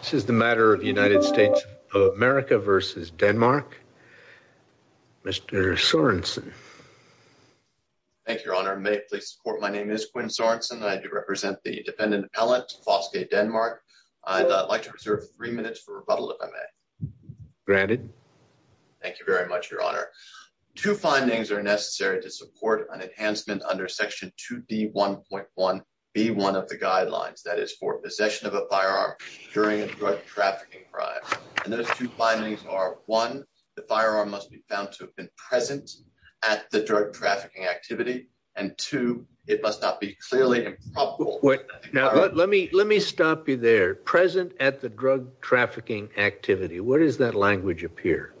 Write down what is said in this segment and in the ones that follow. This is the matter of the United States of America v. Denmark. Mr. Sorensen. Thank you, Your Honor. May it please the Court, my name is Quinn Sorensen. I do represent the defendant appellant, Foskay Denmark. I'd like to reserve three minutes for rebuttal, if I may. Granted. Thank you very much, Your Honor. Two findings are necessary to support an enhancement under Section 2D1.1b1 of the drug trafficking crime. And those two findings are, one, the firearm must be found to have been present at the drug trafficking activity, and two, it must not be clearly improbable. Now, let me stop you there. Present at the drug trafficking activity, where does that language appear?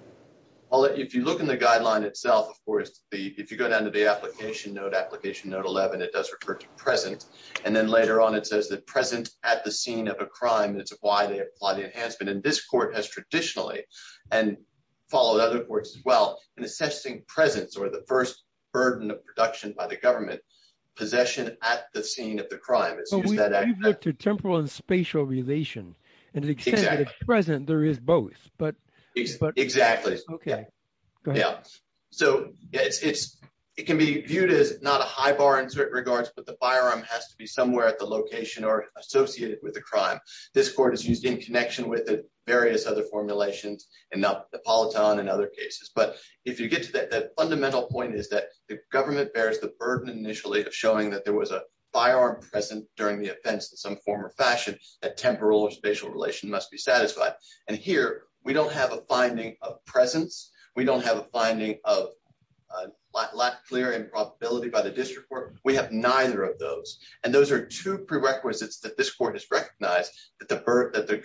Well, if you look in the guideline itself, of course, if you go down to the application note, application note 11, it does refer to present. And then later on, it says that present at the scene of a crime, it's why they apply the enhancement. And this court has traditionally, and followed other courts as well, in assessing presence or the first burden of production by the government, possession at the scene of the crime. But we've looked at temporal and spatial relation, and it says that at present, there is both. Exactly. Okay. Go ahead. So it can be viewed as not a high bar in certain regards, but the firearm has to be somewhere at location or associated with a crime. This court has used in connection with various other formulations, and now the polyton and other cases. But if you get to that fundamental point is that the government bears the burden initially of showing that there was a firearm present during the offense in some form or fashion, that temporal or spatial relation must be satisfied. And here, we don't have a finding of presence. We don't have a finding of lack, clear, and probability by the district court. We have neither of those. And those are two prerequisites that this court has recognized that the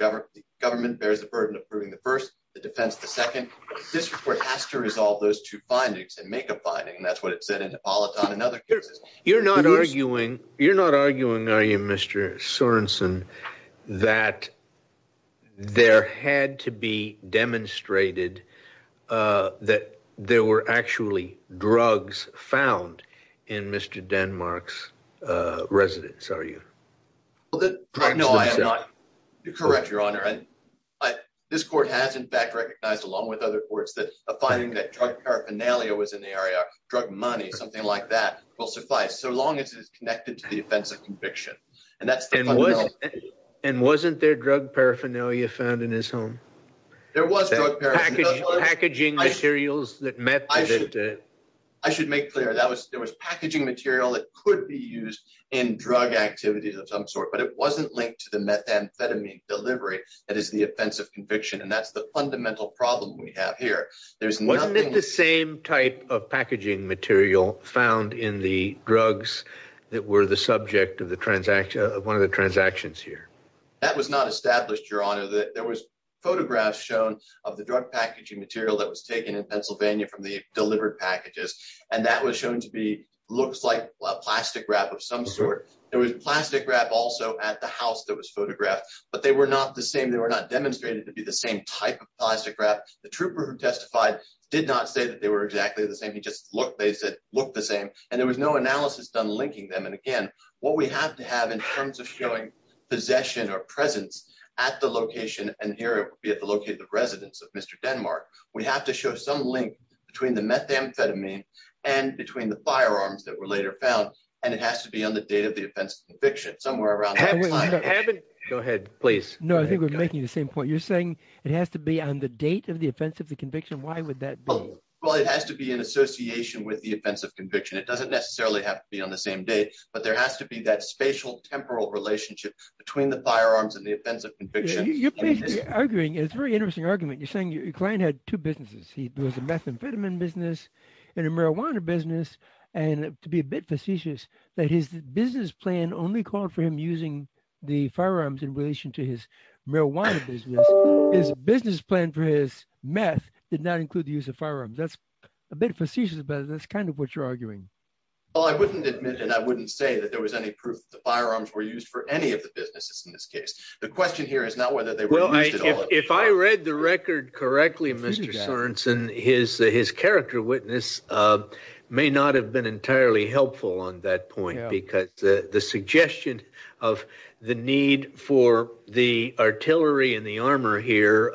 government bears the burden of proving the first, the defense the second. This report has to resolve those two findings and make a finding. And that's what it said in the polyton and other cases. You're not arguing, are you, Mr. Sorensen, that there had to be demonstrated that there were actually drugs found in Mr. Denmark's residence, are you? Well, no, I am not correct, Your Honor. And this court has, in fact, recognized, along with other courts, that a finding that drug paraphernalia was in the area, drug money, something like that, will suffice so long as it is connected to the offense of conviction. And that's the fundamental... And wasn't there drug paraphernalia found in his home? There was drug paraphernalia. Packaging materials that met... I should make clear, there was packaging material that could be used in drug activities of some sort, but it wasn't linked to the methamphetamine delivery that is the offense of conviction. And that's the fundamental problem we have here. There's nothing... Wasn't it the same type of packaging material found in the drugs that were the subject of one of the transactions here? That was not established, Your Honor. There was photographs shown of the drug packaging material that was taken in Pennsylvania from the delivered packages, and that was shown to be... Looks like plastic wrap of some sort. There was plastic wrap also at the house that was photographed, but they were not the same. They were not demonstrated to be the same type of plastic wrap. The trooper who testified did not say that they were exactly the same. He just looked, they said, looked the same. And there was no analysis done linking them. And again, what we have to have in terms of showing possession or location, and here it would be located at the residence of Mr. Denmark, we have to show some link between the methamphetamine and between the firearms that were later found. And it has to be on the date of the offense of conviction, somewhere around that time. Go ahead, please. No, I think we're making the same point. You're saying it has to be on the date of the offense of the conviction. Why would that be? Well, it has to be in association with the offense of conviction. It doesn't necessarily have to be on the same date, but there has to be that spatial temporal relationship between the firearms and the argument. It's a very interesting argument. You're saying your client had two businesses. He was a methamphetamine business and a marijuana business. And to be a bit facetious that his business plan only called for him using the firearms in relation to his marijuana business. His business plan for his meth did not include the use of firearms. That's a bit facetious, but that's kind of what you're arguing. Well, I wouldn't admit, and I wouldn't say that there was any proof that the firearms were used for any of the businesses in this case. The question here is not whether they were used at all. Well, if I read the record correctly, Mr. Sorenson, his character witness may not have been entirely helpful on that point because the suggestion of the need for the artillery and the armor here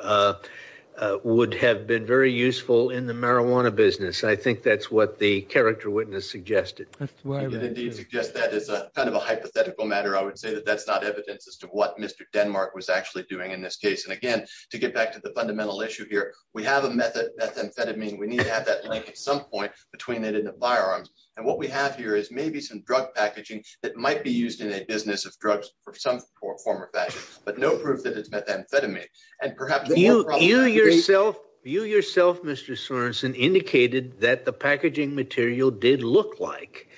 would have been very useful in the marijuana business. I think that's what the character witness suggested. I can indeed suggest that as a kind of hypothetical matter, I would say that that's not evidence as to what Mr. Denmark was actually doing in this case. And again, to get back to the fundamental issue here, we have a methamphetamine. We need to have that link at some point between it and the firearms. And what we have here is maybe some drug packaging that might be used in a business of drugs for some form or fashion, but no proof that it's methamphetamine. And perhaps you yourself, you yourself, Mr. Sorenson indicated that the packaging material did look like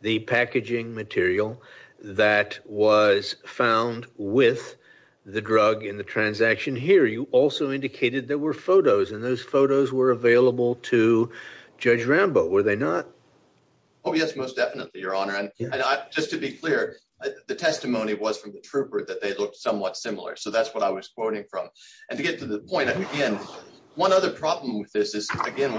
the packaging material that was found with the drug in the transaction here. You also indicated there were photos and those photos were available to Judge Rambo, were they not? Oh yes, most definitely, Your Honor. And just to be clear, the testimony was from the trooper that they looked somewhat similar. So that's what I was quoting from. And to get to the point, again, one other problem with this is, again,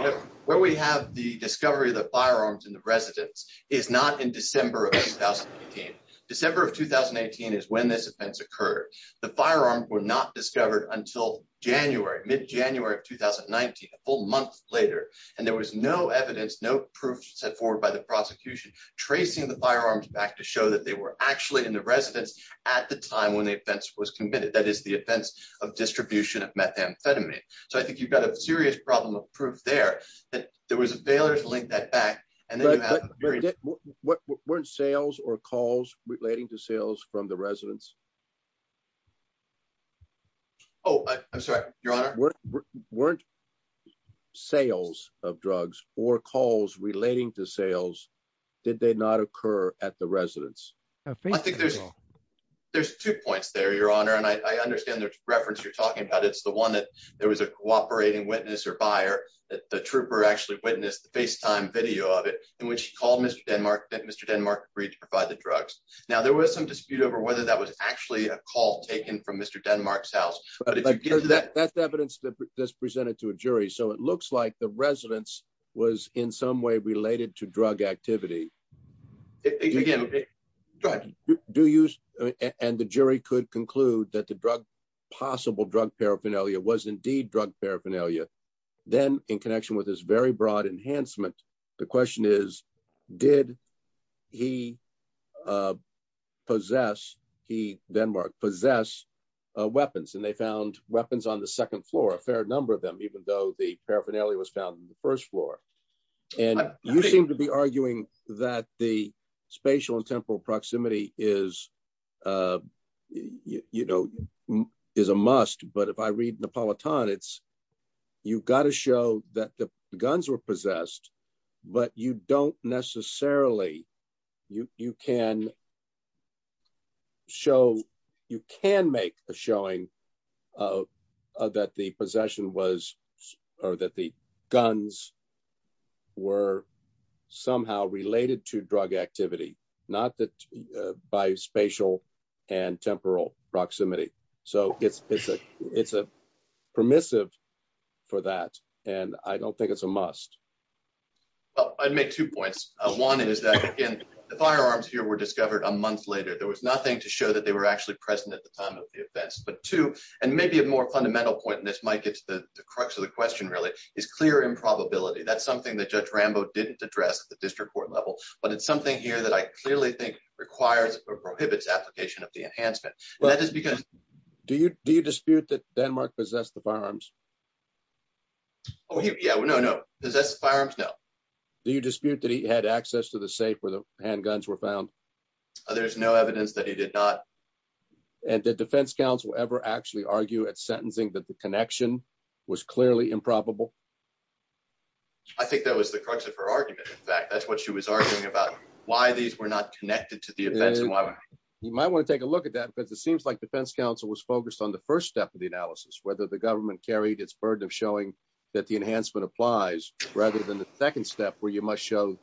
where we have the discovery of the firearms in the residence is not in December of 2018. December of 2018 is when this offense occurred. The firearms were not discovered until January, mid-January of 2019, a full month later. And there was no evidence, no proof set forward by the prosecution tracing the firearms back to show that they were actually in the residence at the time when the offense was committed. That is the offense of distribution of methamphetamine. So I think you've got a serious problem of proof there, that there was a failure to link that back. Weren't sales or calls relating to sales from the residence? Oh, I'm sorry, Your Honor. Weren't sales of drugs or calls relating to sales, did they not occur at the residence? I think there's two points there, Your Honor. And I understand the reference you're talking about. It's the one that there was a cooperating witness or buyer that the trooper actually witnessed the FaceTime video of it in which he called Mr. Denmark, Mr. Denmark to provide the drugs. Now, there was some dispute over whether that was actually a call taken from Mr. Denmark's house. But that's evidence that's presented to a jury. So it looks like the residence was in some way related to drug activity. And the jury could conclude that the possible drug paraphernalia was indeed drug paraphernalia. Then in connection with this very broad enhancement, the question is, did he possess, he, Denmark, possess weapons? And they found weapons on the second floor, a fair number of even though the paraphernalia was found in the first floor. And you seem to be arguing that the spatial and temporal proximity is a must. But if I read Neapolitan, it's, you've got to show that the guns were possessed, but you don't necessarily, you can show, you can make a showing that the possession was, or that the guns were somehow related to drug activity, not that by spatial and temporal proximity. So it's a permissive for that. And I don't think it's a must. Well, I'd make two points. One is that, again, the firearms here were discovered a month later. There was nothing to show that they were actually present at the time of the events. But two, and maybe a more fundamental point, and this might get to the crux of the question really, is clear improbability. That's something that Judge Rambo didn't address at the district court level. But it's something here that I clearly think requires or prohibits application of the enhancement. And that is because- Do you dispute that Denmark possessed the firearms? Oh, yeah. Well, no, no. Possessed the firearms? No. Do you dispute that he had access to the safe where the handguns were found? There's no evidence that he did not. And did defense counsel ever actually argue at sentencing that the connection was clearly improbable? I think that was the crux of her argument. In fact, that's what she was arguing about, why these were not connected to the events and why- You might want to take a look at that because it seems like defense counsel was focused on the first step of the analysis, whether the government carried its burden of showing that the enhancement applies, rather than the second step where you must show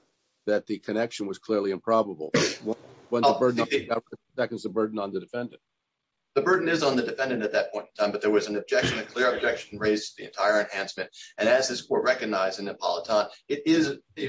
that the connection was clearly improbable. That was the burden on the defendant. The burden is on the defendant at that point in time, but there was an objection, a clear objection raised to the entire enhancement. And as this court recognized in Napolitano,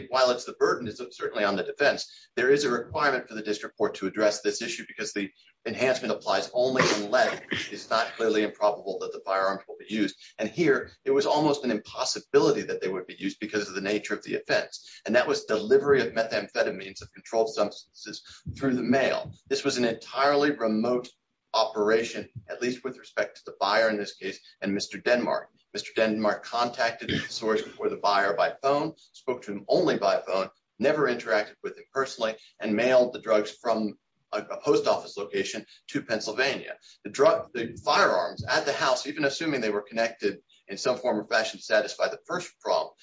while it's the burden, it's certainly on the defense. There is a requirement for the district court to address this issue because the enhancement applies only unless it's not clearly improbable that the firearms will be used. And here, it was almost an impossibility that they would be used because of the nature of the offense. And that was delivery of methamphetamines, of controlled substances through the mail. This was an entirely remote operation, at least with respect to the buyer in this case, and Mr. Denmark. Mr. Denmark contacted the source before the buyer by phone, spoke to him only by phone, never interacted with him personally, and mailed the drugs from a post office location to Pennsylvania. The firearms at the house, even assuming they were connected in some form or fashion to satisfy the first prompt,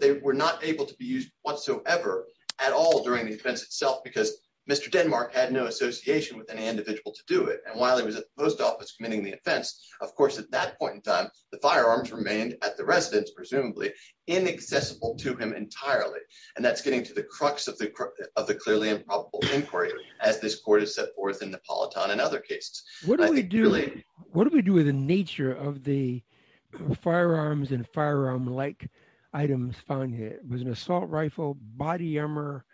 they were not able to be used whatsoever at all during the offense itself because Mr. Denmark had no association with any individual to do it. And while he was at the post office committing the offense, of course, at that point in time, the firearms remained at the residence, presumably inaccessible to him entirely. And that's getting to the crux of the clearly improbable inquiry, as this court has set forth in Napolitano and other cases. What do we do with the nature of the firearms and firearm-like items found here? Was it an assault rifle, body armor?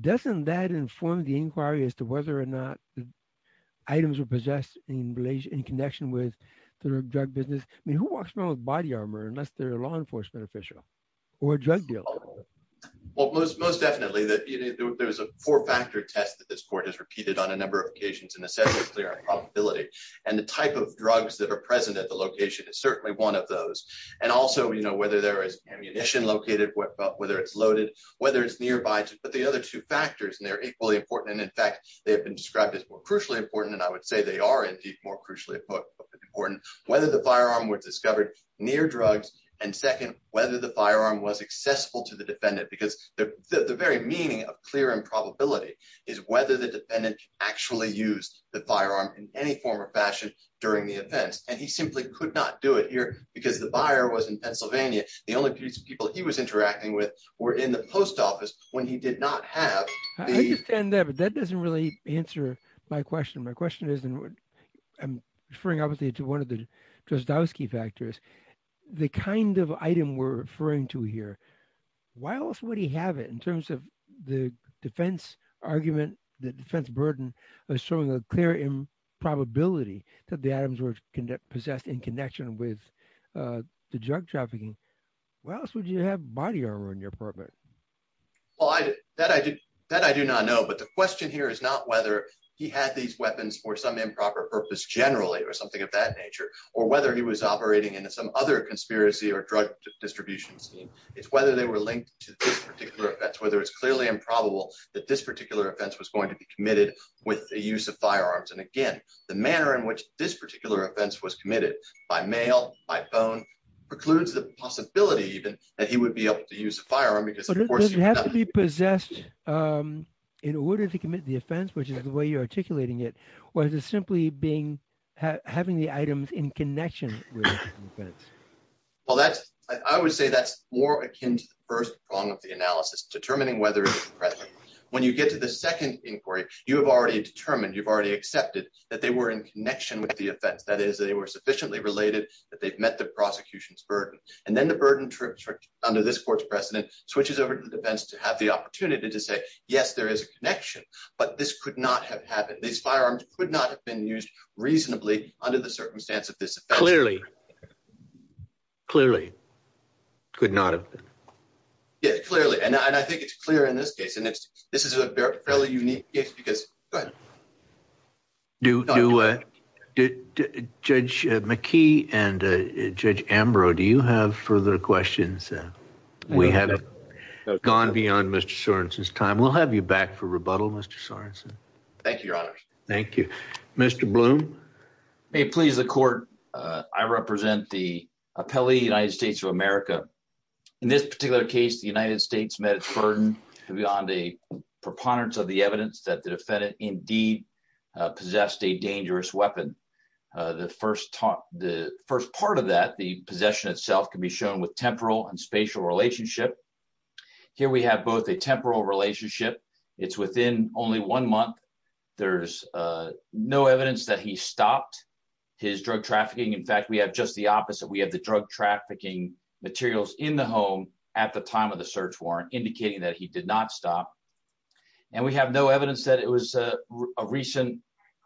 Doesn't that inform the inquiry as to whether or not items were possessed in relation, in connection with the drug business? I mean, who walks around with body armor unless they're a law enforcement official or a drug dealer? Well, most definitely. There was a four-factor test that this court has repeated on a number of occasions in the sense of clear probability. And the type of drugs that are present at the location is certainly one of those. And also, whether there is ammunition located, whether it's loaded, whether it's nearby, but the other two factors, and they're equally important. And they have been described as more crucially important, and I would say they are indeed more crucially important. Whether the firearm was discovered near drugs, and second, whether the firearm was accessible to the defendant. Because the very meaning of clear improbability is whether the defendant actually used the firearm in any form or fashion during the events. And he simply could not do it here because the buyer was in Pennsylvania. The only people he was answering were the people who were in Pennsylvania. So, I don't really answer my question. My question is, and I'm referring obviously to one of the Dostoevsky factors, the kind of item we're referring to here, why else would he have it in terms of the defense argument, the defense burden of showing a clear improbability that the items were possessed in connection with the drug trafficking? Why else would you have body armor in your apartment? Well, that I do not know, but the question here is not whether he had these weapons for some improper purpose generally or something of that nature, or whether he was operating into some other conspiracy or drug distribution scheme. It's whether they were linked to this particular offense, whether it's clearly improbable that this particular offense was going to be committed with the use of firearms. And again, the manner in which this particular offense was committed, by mail, by phone, precludes the possibility even that he would be able to use a firearm Does it have to be possessed in order to commit the offense, which is the way you're articulating it, or is it simply having the items in connection with the offense? Well, I would say that's more akin to the first prong of the analysis, determining whether it's present. When you get to the second inquiry, you have already determined, you've already accepted that they were in connection with the offense. That is, they were sufficiently related that they've met the prosecution's burden. And then the burden tripped under this court's precedent, switches over to the defense to have the opportunity to say, yes, there is a connection, but this could not have happened. These firearms could not have been used reasonably under the circumstance of this offense. Clearly, clearly. Could not have been. Yeah, clearly. And I think it's clear in this case, and this is a fairly unique case because... Judge McKee and Judge Ambrose, do you have further questions? We have gone beyond Mr. Sorensen's time. We'll have you back for rebuttal, Mr. Sorensen. Thank you, Your Honors. Thank you. Mr. Bloom. May it please the Court, I represent the appellee, United States of America. In this particular case, the United States met its burden beyond a preponderance of the evidence that the defendant indeed possessed a dangerous weapon. The first part of that, the possession itself can be shown with temporal and spatial relationship. Here we have both a temporal relationship. It's within only one month. There's no evidence that he stopped his drug trafficking. In fact, we have just the opposite. We have the drug trafficking materials in the home at the time of the search warrant indicating that he did not stop. And we have no evidence that it was a recent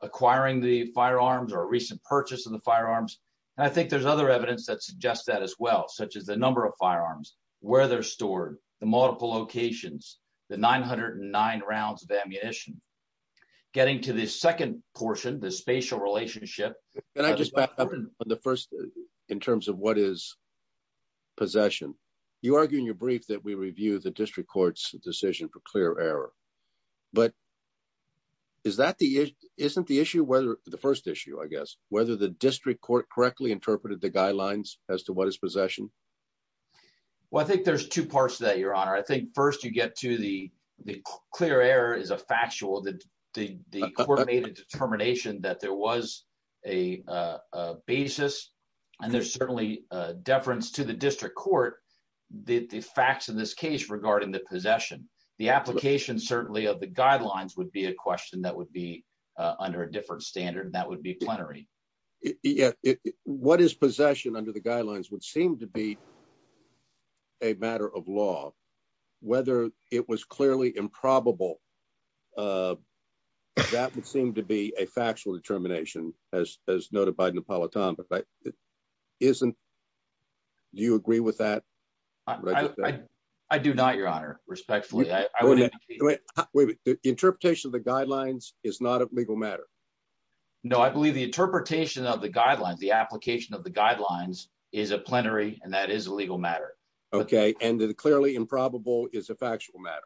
acquiring the firearms or a recent purchase of the firearms. And I think there's other evidence that suggests that as well, such as the number of firearms, where they're stored, the multiple locations, the 909 rounds of ammunition. Getting to the second portion, the spatial relationship. Can I just back up on the first in terms of what is possession? You argue in your brief that we review the district court's decision for clear error. But is that the issue? Isn't the issue the first issue, I guess, whether the district court correctly interpreted the guidelines as to what is possession? Well, I think there's two parts to that, Your Honor. I think first you get to the clear error is a factual that the court made a determination that there was a basis. And there's certainly a deference to the district court. The facts in this case regarding the possession, the application, certainly of the guidelines would be a question that would be under a different standard. That would be plenary. Yeah. What is possession under the guidelines would seem to be a matter of law, whether it was clearly improbable. That would seem to be a factual determination, as noted by Napolitano. But that isn't. Do you agree with that? I do not, Your Honor, respectfully. Wait, interpretation of the guidelines is not a legal matter. No, I believe the interpretation of the guidelines, the application of the guidelines is a plenary and that is a legal matter. Okay. And the clearly improbable is a factual matter.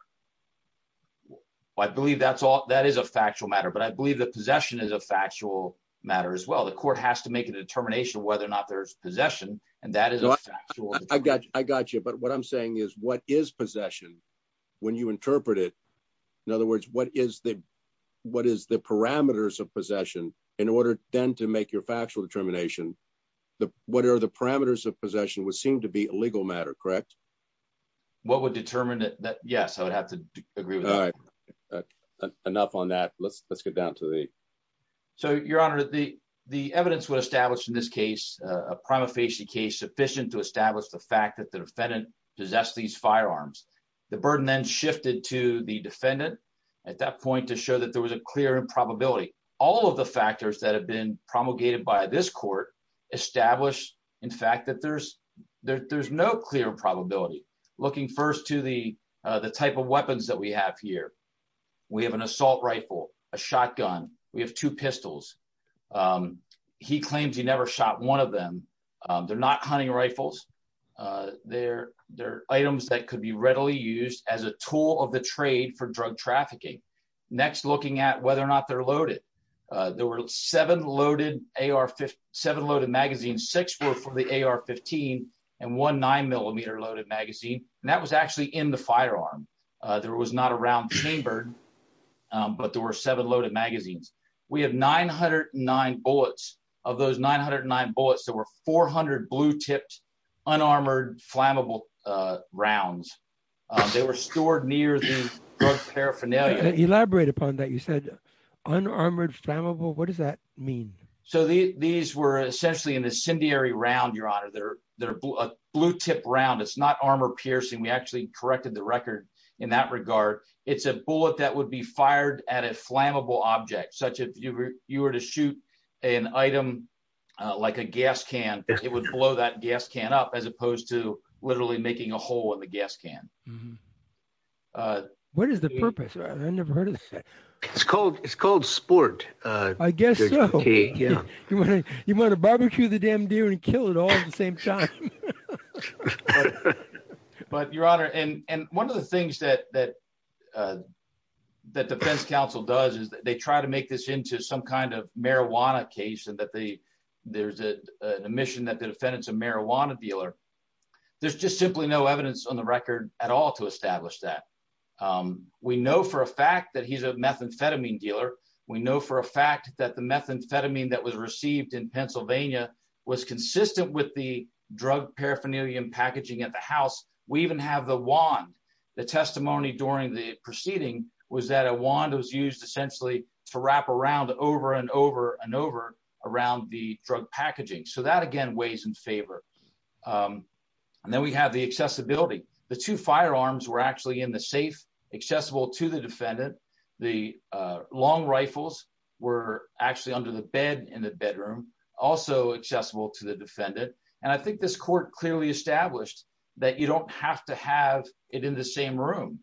I believe that's all that is a factual matter. But I believe that possession is a factual matter as well. The court has to make a determination whether or not there's possession. And that is I got you. I got you. But what I'm saying is what is possession when you interpret it? In other words, what is the what is the parameters of possession in order then to make your factual determination? What are the parameters of possession would seem to be a legal matter, correct? What would determine that? Yes, I would have to agree with. Enough on that. Let's let's get down to the. So, Your Honor, the the evidence would establish in this case, a prima facie case sufficient to establish the fact that the defendant possessed these firearms. The burden then shifted to the defendant at that point to show that there was a clear improbability. All of the factors that have been promulgated by this court established, in fact, that there's there's no clear probability. Looking first to the the type of weapons that we have here, we have an assault rifle, a shotgun. We have two pistols. He claims he never shot one of them. They're not hunting rifles. They're they're items that could be readily used as a tool of the trade for drug trafficking. Next, looking at whether or not they're loaded, there were seven loaded AR, seven loaded magazines, six were for the AR-15 and one nine millimeter loaded magazine. And that was actually in the firearm. There was not a round chambered, but there were seven loaded magazines. We have nine hundred and nine bullets of those nine hundred and nine bullets. There were 400 blue tipped, unarmored, flammable rounds. They were stored near the paraphernalia. Elaborate upon that. You said unarmored, flammable. What does that mean? So these were essentially an incendiary round, Your Honor. They're they're a blue tip round. It's not armor piercing. We actually corrected the record in that regard. It's a bullet that would be fired at a flammable object such if you were to shoot an item like a gas can, it would blow that gas can up as opposed to literally making a hole in the gas can. What is the purpose? I never heard of it. It's called it's called sport. I guess you want to barbecue the damn deer and kill it all at the same time. But but, Your Honor, and and one of the things that that that defense counsel does is that they try to make this into some kind of marijuana case and that they there's an admission that the defendant's a marijuana dealer. There's just simply no evidence on the record at all to establish that. We know for a fact that he's a methamphetamine dealer. We know for a fact that the methamphetamine that was received in Pennsylvania was consistent with the drug paraphernalia and packaging at the house. We even have the wand. The testimony during the proceeding was that a wand was used essentially to wrap around over and over and over around the drug packaging. So that again, weighs in favor. And then we have the accessibility. The two firearms were actually in the safe, accessible to the defendant. The long rifles were actually under the bed in the bedroom. Also accessible to the defendant. And I think this court clearly established that you don't have to have it in the same room.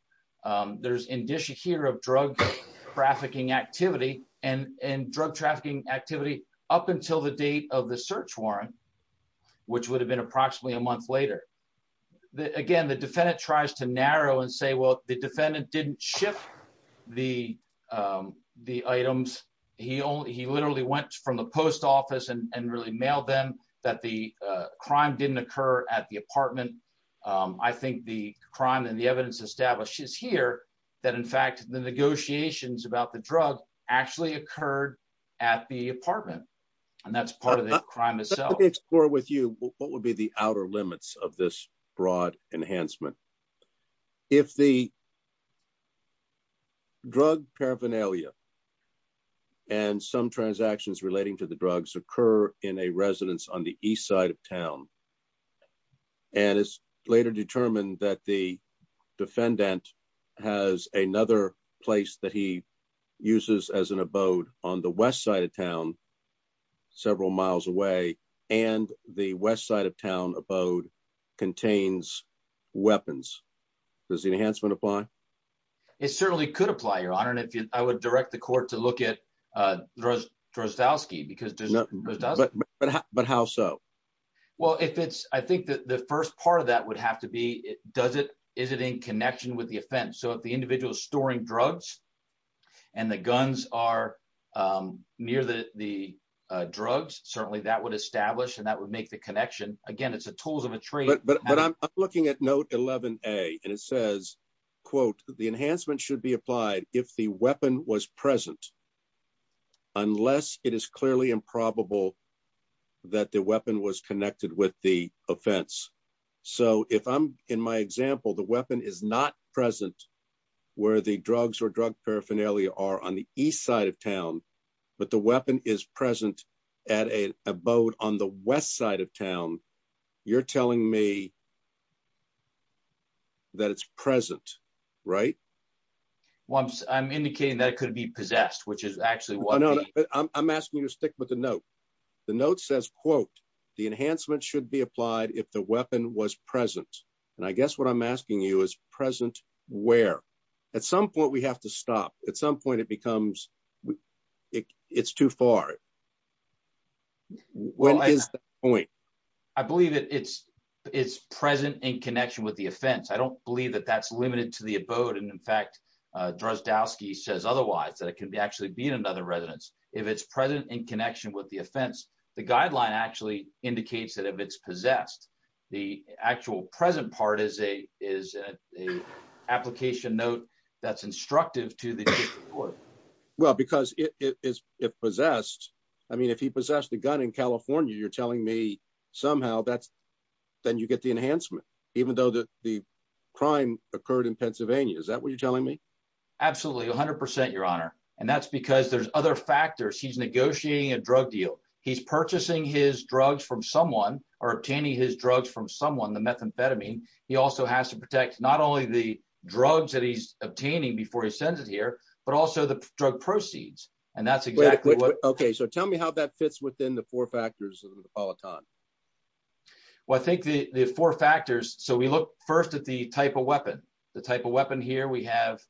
There's indicia here of drug trafficking activity and and drug trafficking activity up until the date of the search warrant, which would have been approximately a month later. Again, the defendant tries to narrow and say, well, the defendant didn't ship the items. He only he literally went from the post office and really mailed them that the crime didn't occur at the apartment. I think the crime and the evidence establishes here that, in fact, the negotiations about the drug actually occurred at the apartment. And that's part of the crime itself. Let me explore with you what would be the outer limits of this broad enhancement. If the. Drug paraphernalia. And some transactions relating to the drugs occur in a residence on the east side of town. And it's later determined that the defendant has another place that he uses as an abode on west side of town several miles away. And the west side of town abode contains weapons. Does the enhancement apply? It certainly could apply, your honor. And if I would direct the court to look at Drozdowski because. But how so? Well, if it's I think that the first part of that would have to be, does it is it in connection with the offense? So if the individual storing drugs and the guns are near the drugs, certainly that would establish and that would make the connection. Again, it's a tools of a trade, but I'm looking at note 11A and it says, quote, the enhancement should be applied if the weapon was present. Unless it is clearly improbable that the weapon was connected with the offense. So if I'm in my example, the weapon is not present where the drugs or drug paraphernalia are on the east side of town, but the weapon is present at a boat on the west side of town. You're telling me. That it's present, right? Once I'm indicating that it could be possessed, which is actually what I'm asking you to stick to the note, the note says, quote, the enhancement should be applied if the weapon was present. And I guess what I'm asking you is present where at some point we have to stop. At some point, it becomes it's too far. What is the point? I believe that it's it's present in connection with the offense. I don't believe that that's limited to the abode. And in fact, Drozdowski says otherwise, that it can actually be in another residence if it's present in connection with the offense. The guideline actually indicates that if it's possessed, the actual present part is a is a application note that's instructive to the court. Well, because it is possessed. I mean, if he possessed the gun in California, you're telling me somehow that's then you get the enhancement, even though the crime occurred in Pennsylvania. Is that what you're telling me? Absolutely. One hundred percent, your honor. And that's because there's other factors. He's negotiating a drug deal. He's purchasing his drugs from someone or obtaining his drugs from someone. The methamphetamine. He also has to protect not only the drugs that he's obtaining before he sends it here, but also the drug proceeds. And that's exactly what. OK, so tell me how that fits within the four factors of the polyton. Well, I think the four factors. So we look first at the type of weapon, the type of weapon here we have.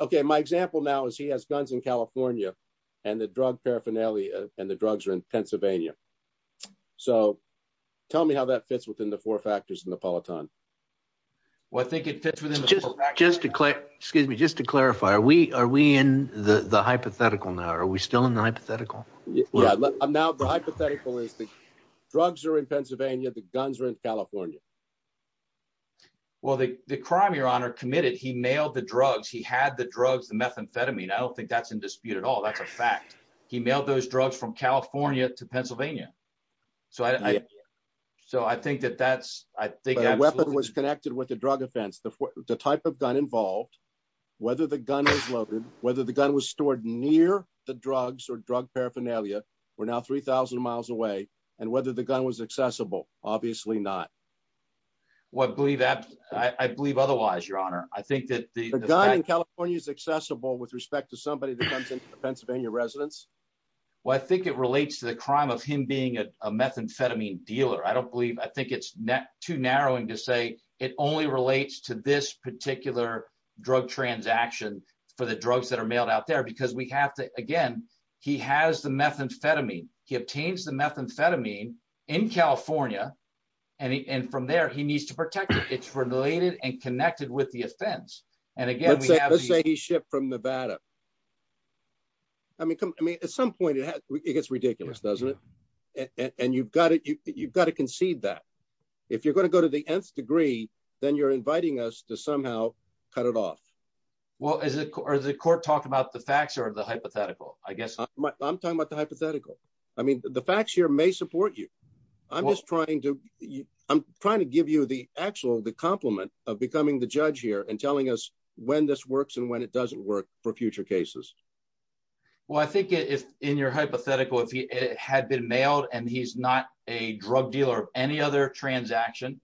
OK, my example now is he has guns in California and the drug paraphernalia and the drugs are in Pennsylvania. So tell me how that fits within the four factors in the polyton. Well, I think it fits within just just to excuse me, just to clarify, are we are we in the hypothetical now? Are we still in the hypothetical? Now, the hypothetical is the drugs are in Pennsylvania. The guns are in California. Well, the crime your honor committed, he mailed the drugs. He had the drugs, the methamphetamine. I don't think that's in dispute at all. That's a fact. He mailed those drugs from California to Pennsylvania. So I so I think that that's I think the weapon was connected with the drug offense. The type of gun involved, whether the gun was loaded, whether the gun was stored near the drugs or drug paraphernalia were now 3000 miles away and whether the gun was accessible. Obviously not. Well, I believe that I believe otherwise, your honor. I think that the gun in California is accessible with respect to somebody that comes into the Pennsylvania residence. Well, I think it relates to the crime of him being a methamphetamine dealer. I don't believe I think it's too narrowing to say it only relates to this particular drug transaction for the drugs that are mailed out there because we have to. Again, he has the methamphetamine. He obtains the methamphetamine in California and from there he needs to protect it. Related and connected with the offense. And again, let's say he shipped from Nevada. I mean, I mean, at some point it gets ridiculous, doesn't it? And you've got it. You've got to concede that if you're going to go to the nth degree, then you're inviting us to somehow cut it off. Well, is it or is the court talk about the facts or the hypothetical? I guess I'm talking about the hypothetical. I mean, the facts here may support you. I'm just trying to I'm trying to give you the actual the compliment of becoming the judge here and telling us when this works and when it doesn't work for future cases. Well, I think if in your hypothetical, if he had been mailed and he's not a drug dealer of any other transaction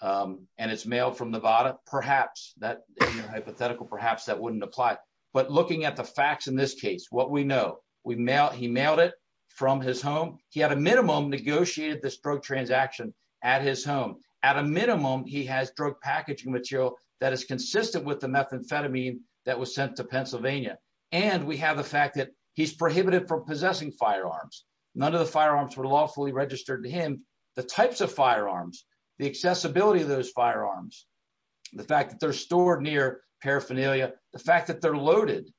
and it's mailed from Nevada, perhaps that hypothetical, perhaps that wouldn't apply. But looking at the facts in this case, what we know we mail, he mailed it from his home. He had a minimum negotiated this drug transaction at his home. At a minimum, he has drug packaging material that is consistent with the methamphetamine that was sent to Pennsylvania. And we have the fact that he's prohibited from possessing firearms. None of the firearms were lawfully registered to him. The types of firearms, the accessibility of those firearms, the fact that they're stored near paraphernalia, the fact that they're loaded,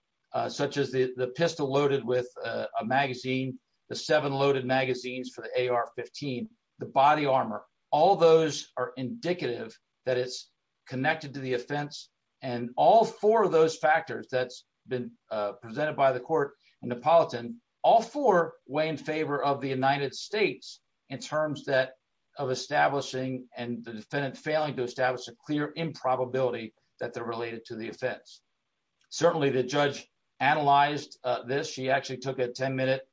such as the pistol loaded with a magazine, the seven loaded magazines for the AR-15, the body armor, all those are indicative that it's connected to the offense. And all four of those factors that's been presented by the court in Napolitan, all four weigh in favor of the United States in terms that of establishing and the defendant failing to establish a clear improbability that they're related to the offense. Certainly, the judge analyzed this. She actually took a 10-minute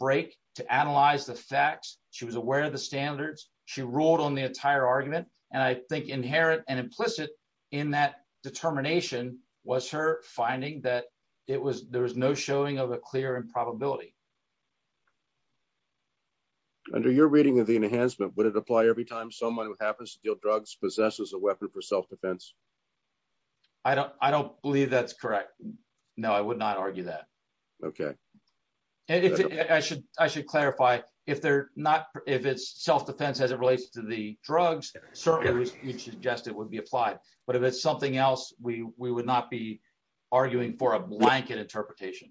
break to analyze the facts. She was aware of the standards. She ruled on the entire argument. And I think inherent and implicit in that determination was her finding that there was no showing of a clear improbability. Under your reading of the enhancement, would it apply every time someone who happens to deal drugs possesses a weapon for self-defense? I don't believe that's correct. No, I would not argue that. Okay. And I should clarify, if it's self-defense as it relates to the drugs, certainly we suggest it would be applied. But if it's something else, we would not be arguing for a blanket interpretation.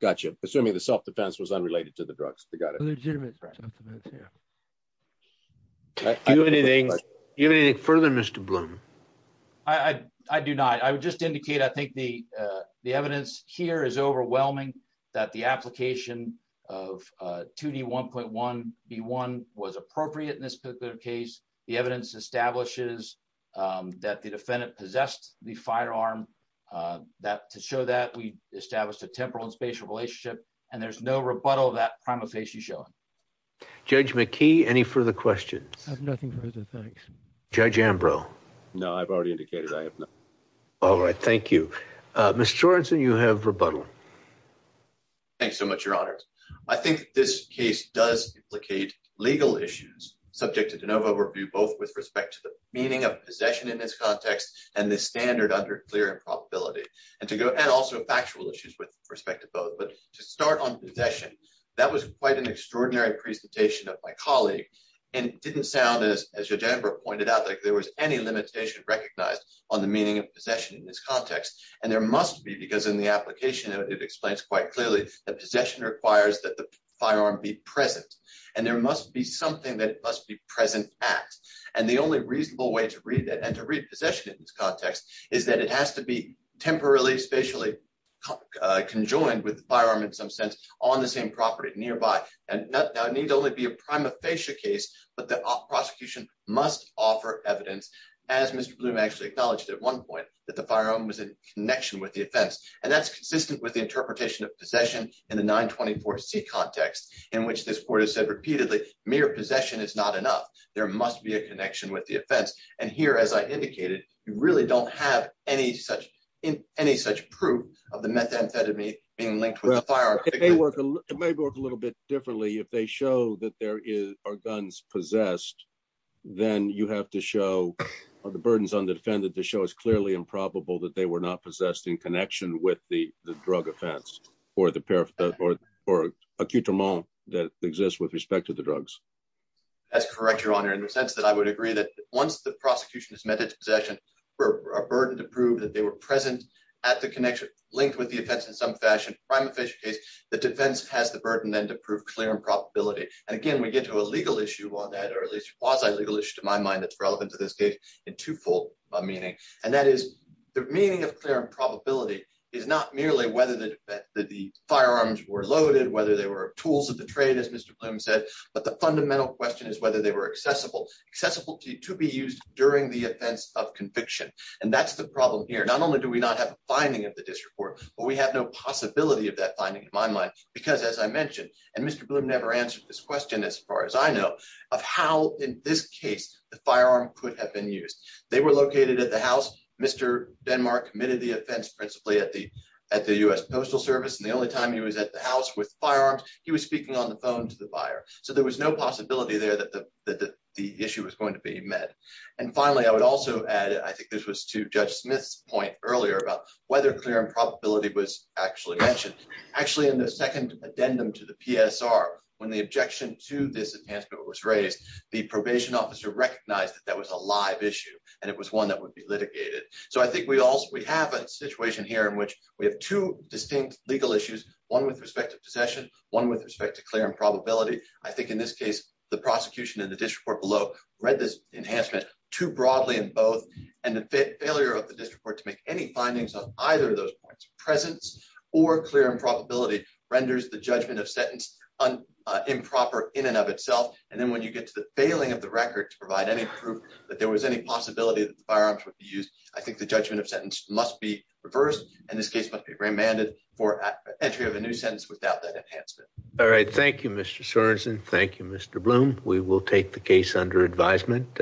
Gotcha. Assuming the self-defense was unrelated to the drugs. We got it. Legitimate self-defense, yeah. Do you have anything further, Mr. Blum? I do not. I would just indicate, I think the evidence here is overwhelming that the application of 2D1.1B1 was appropriate in this particular case. The evidence establishes that the defendant possessed the firearm. To show that, we established a temporal and spatial relationship. And there's no rebuttal of that prima facie showing. Judge McKee, any further questions? I have nothing further, thanks. Judge Ambrose. No, I've already indicated I have nothing. All right, thank you. Mr. Jordan, you have rebuttal. Thanks so much, Your Honors. I think this case does implicate legal issues subject to de novo review, both with respect to the meaning of possession in this context and the standard under clear improbability. And also factual issues with respect to both. But to start on possession, that was quite an extraordinary presentation of my colleague. And it didn't sound, as Judge Amber pointed out, like there was any limitation recognized on the meaning of possession in this context. And there must be, because in the application it explains quite clearly that possession requires that the firearm be present. And there must be something that it must be present at. And the only reasonable way to read that and to read possession in this context is that it has to be temporarily, spatially conjoined with the firearm in some sense on the same property nearby. And that need only be a prima facie case, but the prosecution must offer evidence, as Mr. Bloom actually acknowledged at one point, that the firearm was in connection with the offense. And that's consistent with the interpretation of possession in the 924C context, in which this court has said repeatedly, mere possession is not enough. There must be a connection with the offense. And here, as I indicated, you really don't have any such proof of the methamphetamine being linked with the firearm. It may work a little bit differently. If they show that there are guns possessed, then you have to show the burdens on the defendant to show it's clearly improbable that they were not possessed in connection with the drug offense or the accoutrement that exists with respect to the drugs. That's correct, Your Honor, in the sense that I would agree that once the prosecution has met its possession, for a burden to prove that they were present at the connection linked with the offense in some fashion, the defense has the burden then to prove clear improbability. And again, we get to a legal issue on that, or at least quasi-legal issue to my mind, that's relevant to this case in twofold meaning. And that is the meaning of clear improbability is not merely whether the firearms were loaded, whether they were tools of the trade, as Mr. Bloom said, but the fundamental question is whether they were accessible, accessible to be used during the offense of conviction. And that's the problem here. Not only do we not have a finding of the disreport, but we have no possibility of that finding in my mind, because as I mentioned, and Mr. Bloom never answered this question as far as I know, of how in this case the firearm could have been used. They were located at the house. Mr. Denmark committed the offense principally at the U.S. Postal Service. And the only time he was at the house with firearms, he was speaking on the phone to the buyer. So there was no possibility there that the issue was going to be met. And finally, I would also add, I think this was to Judge Smith's point earlier about whether clear and probability was actually mentioned. Actually, in the second addendum to the PSR, when the objection to this enhancement was raised, the probation officer recognized that that was a live issue and it was one that would be litigated. So I think we have a situation here in which we have two distinct legal issues, one with respect to possession, one with respect to clear and probability. I think in this case, the prosecution and the disreport below read this enhancement too broadly in both and the failure of the disreport to make any findings on either of those points, presence or clear and probability, renders the judgment of sentence improper in and of itself. And then when you get to the failing of the record to provide any proof that there was any possibility that the firearms would be used, I think the judgment of sentence must be reversed. And this case must be remanded for entry of a new sentence without that enhancement. All right. Thank you, Mr. Sorensen. Thank you, Mr. Bloom. We will take the case under advisement.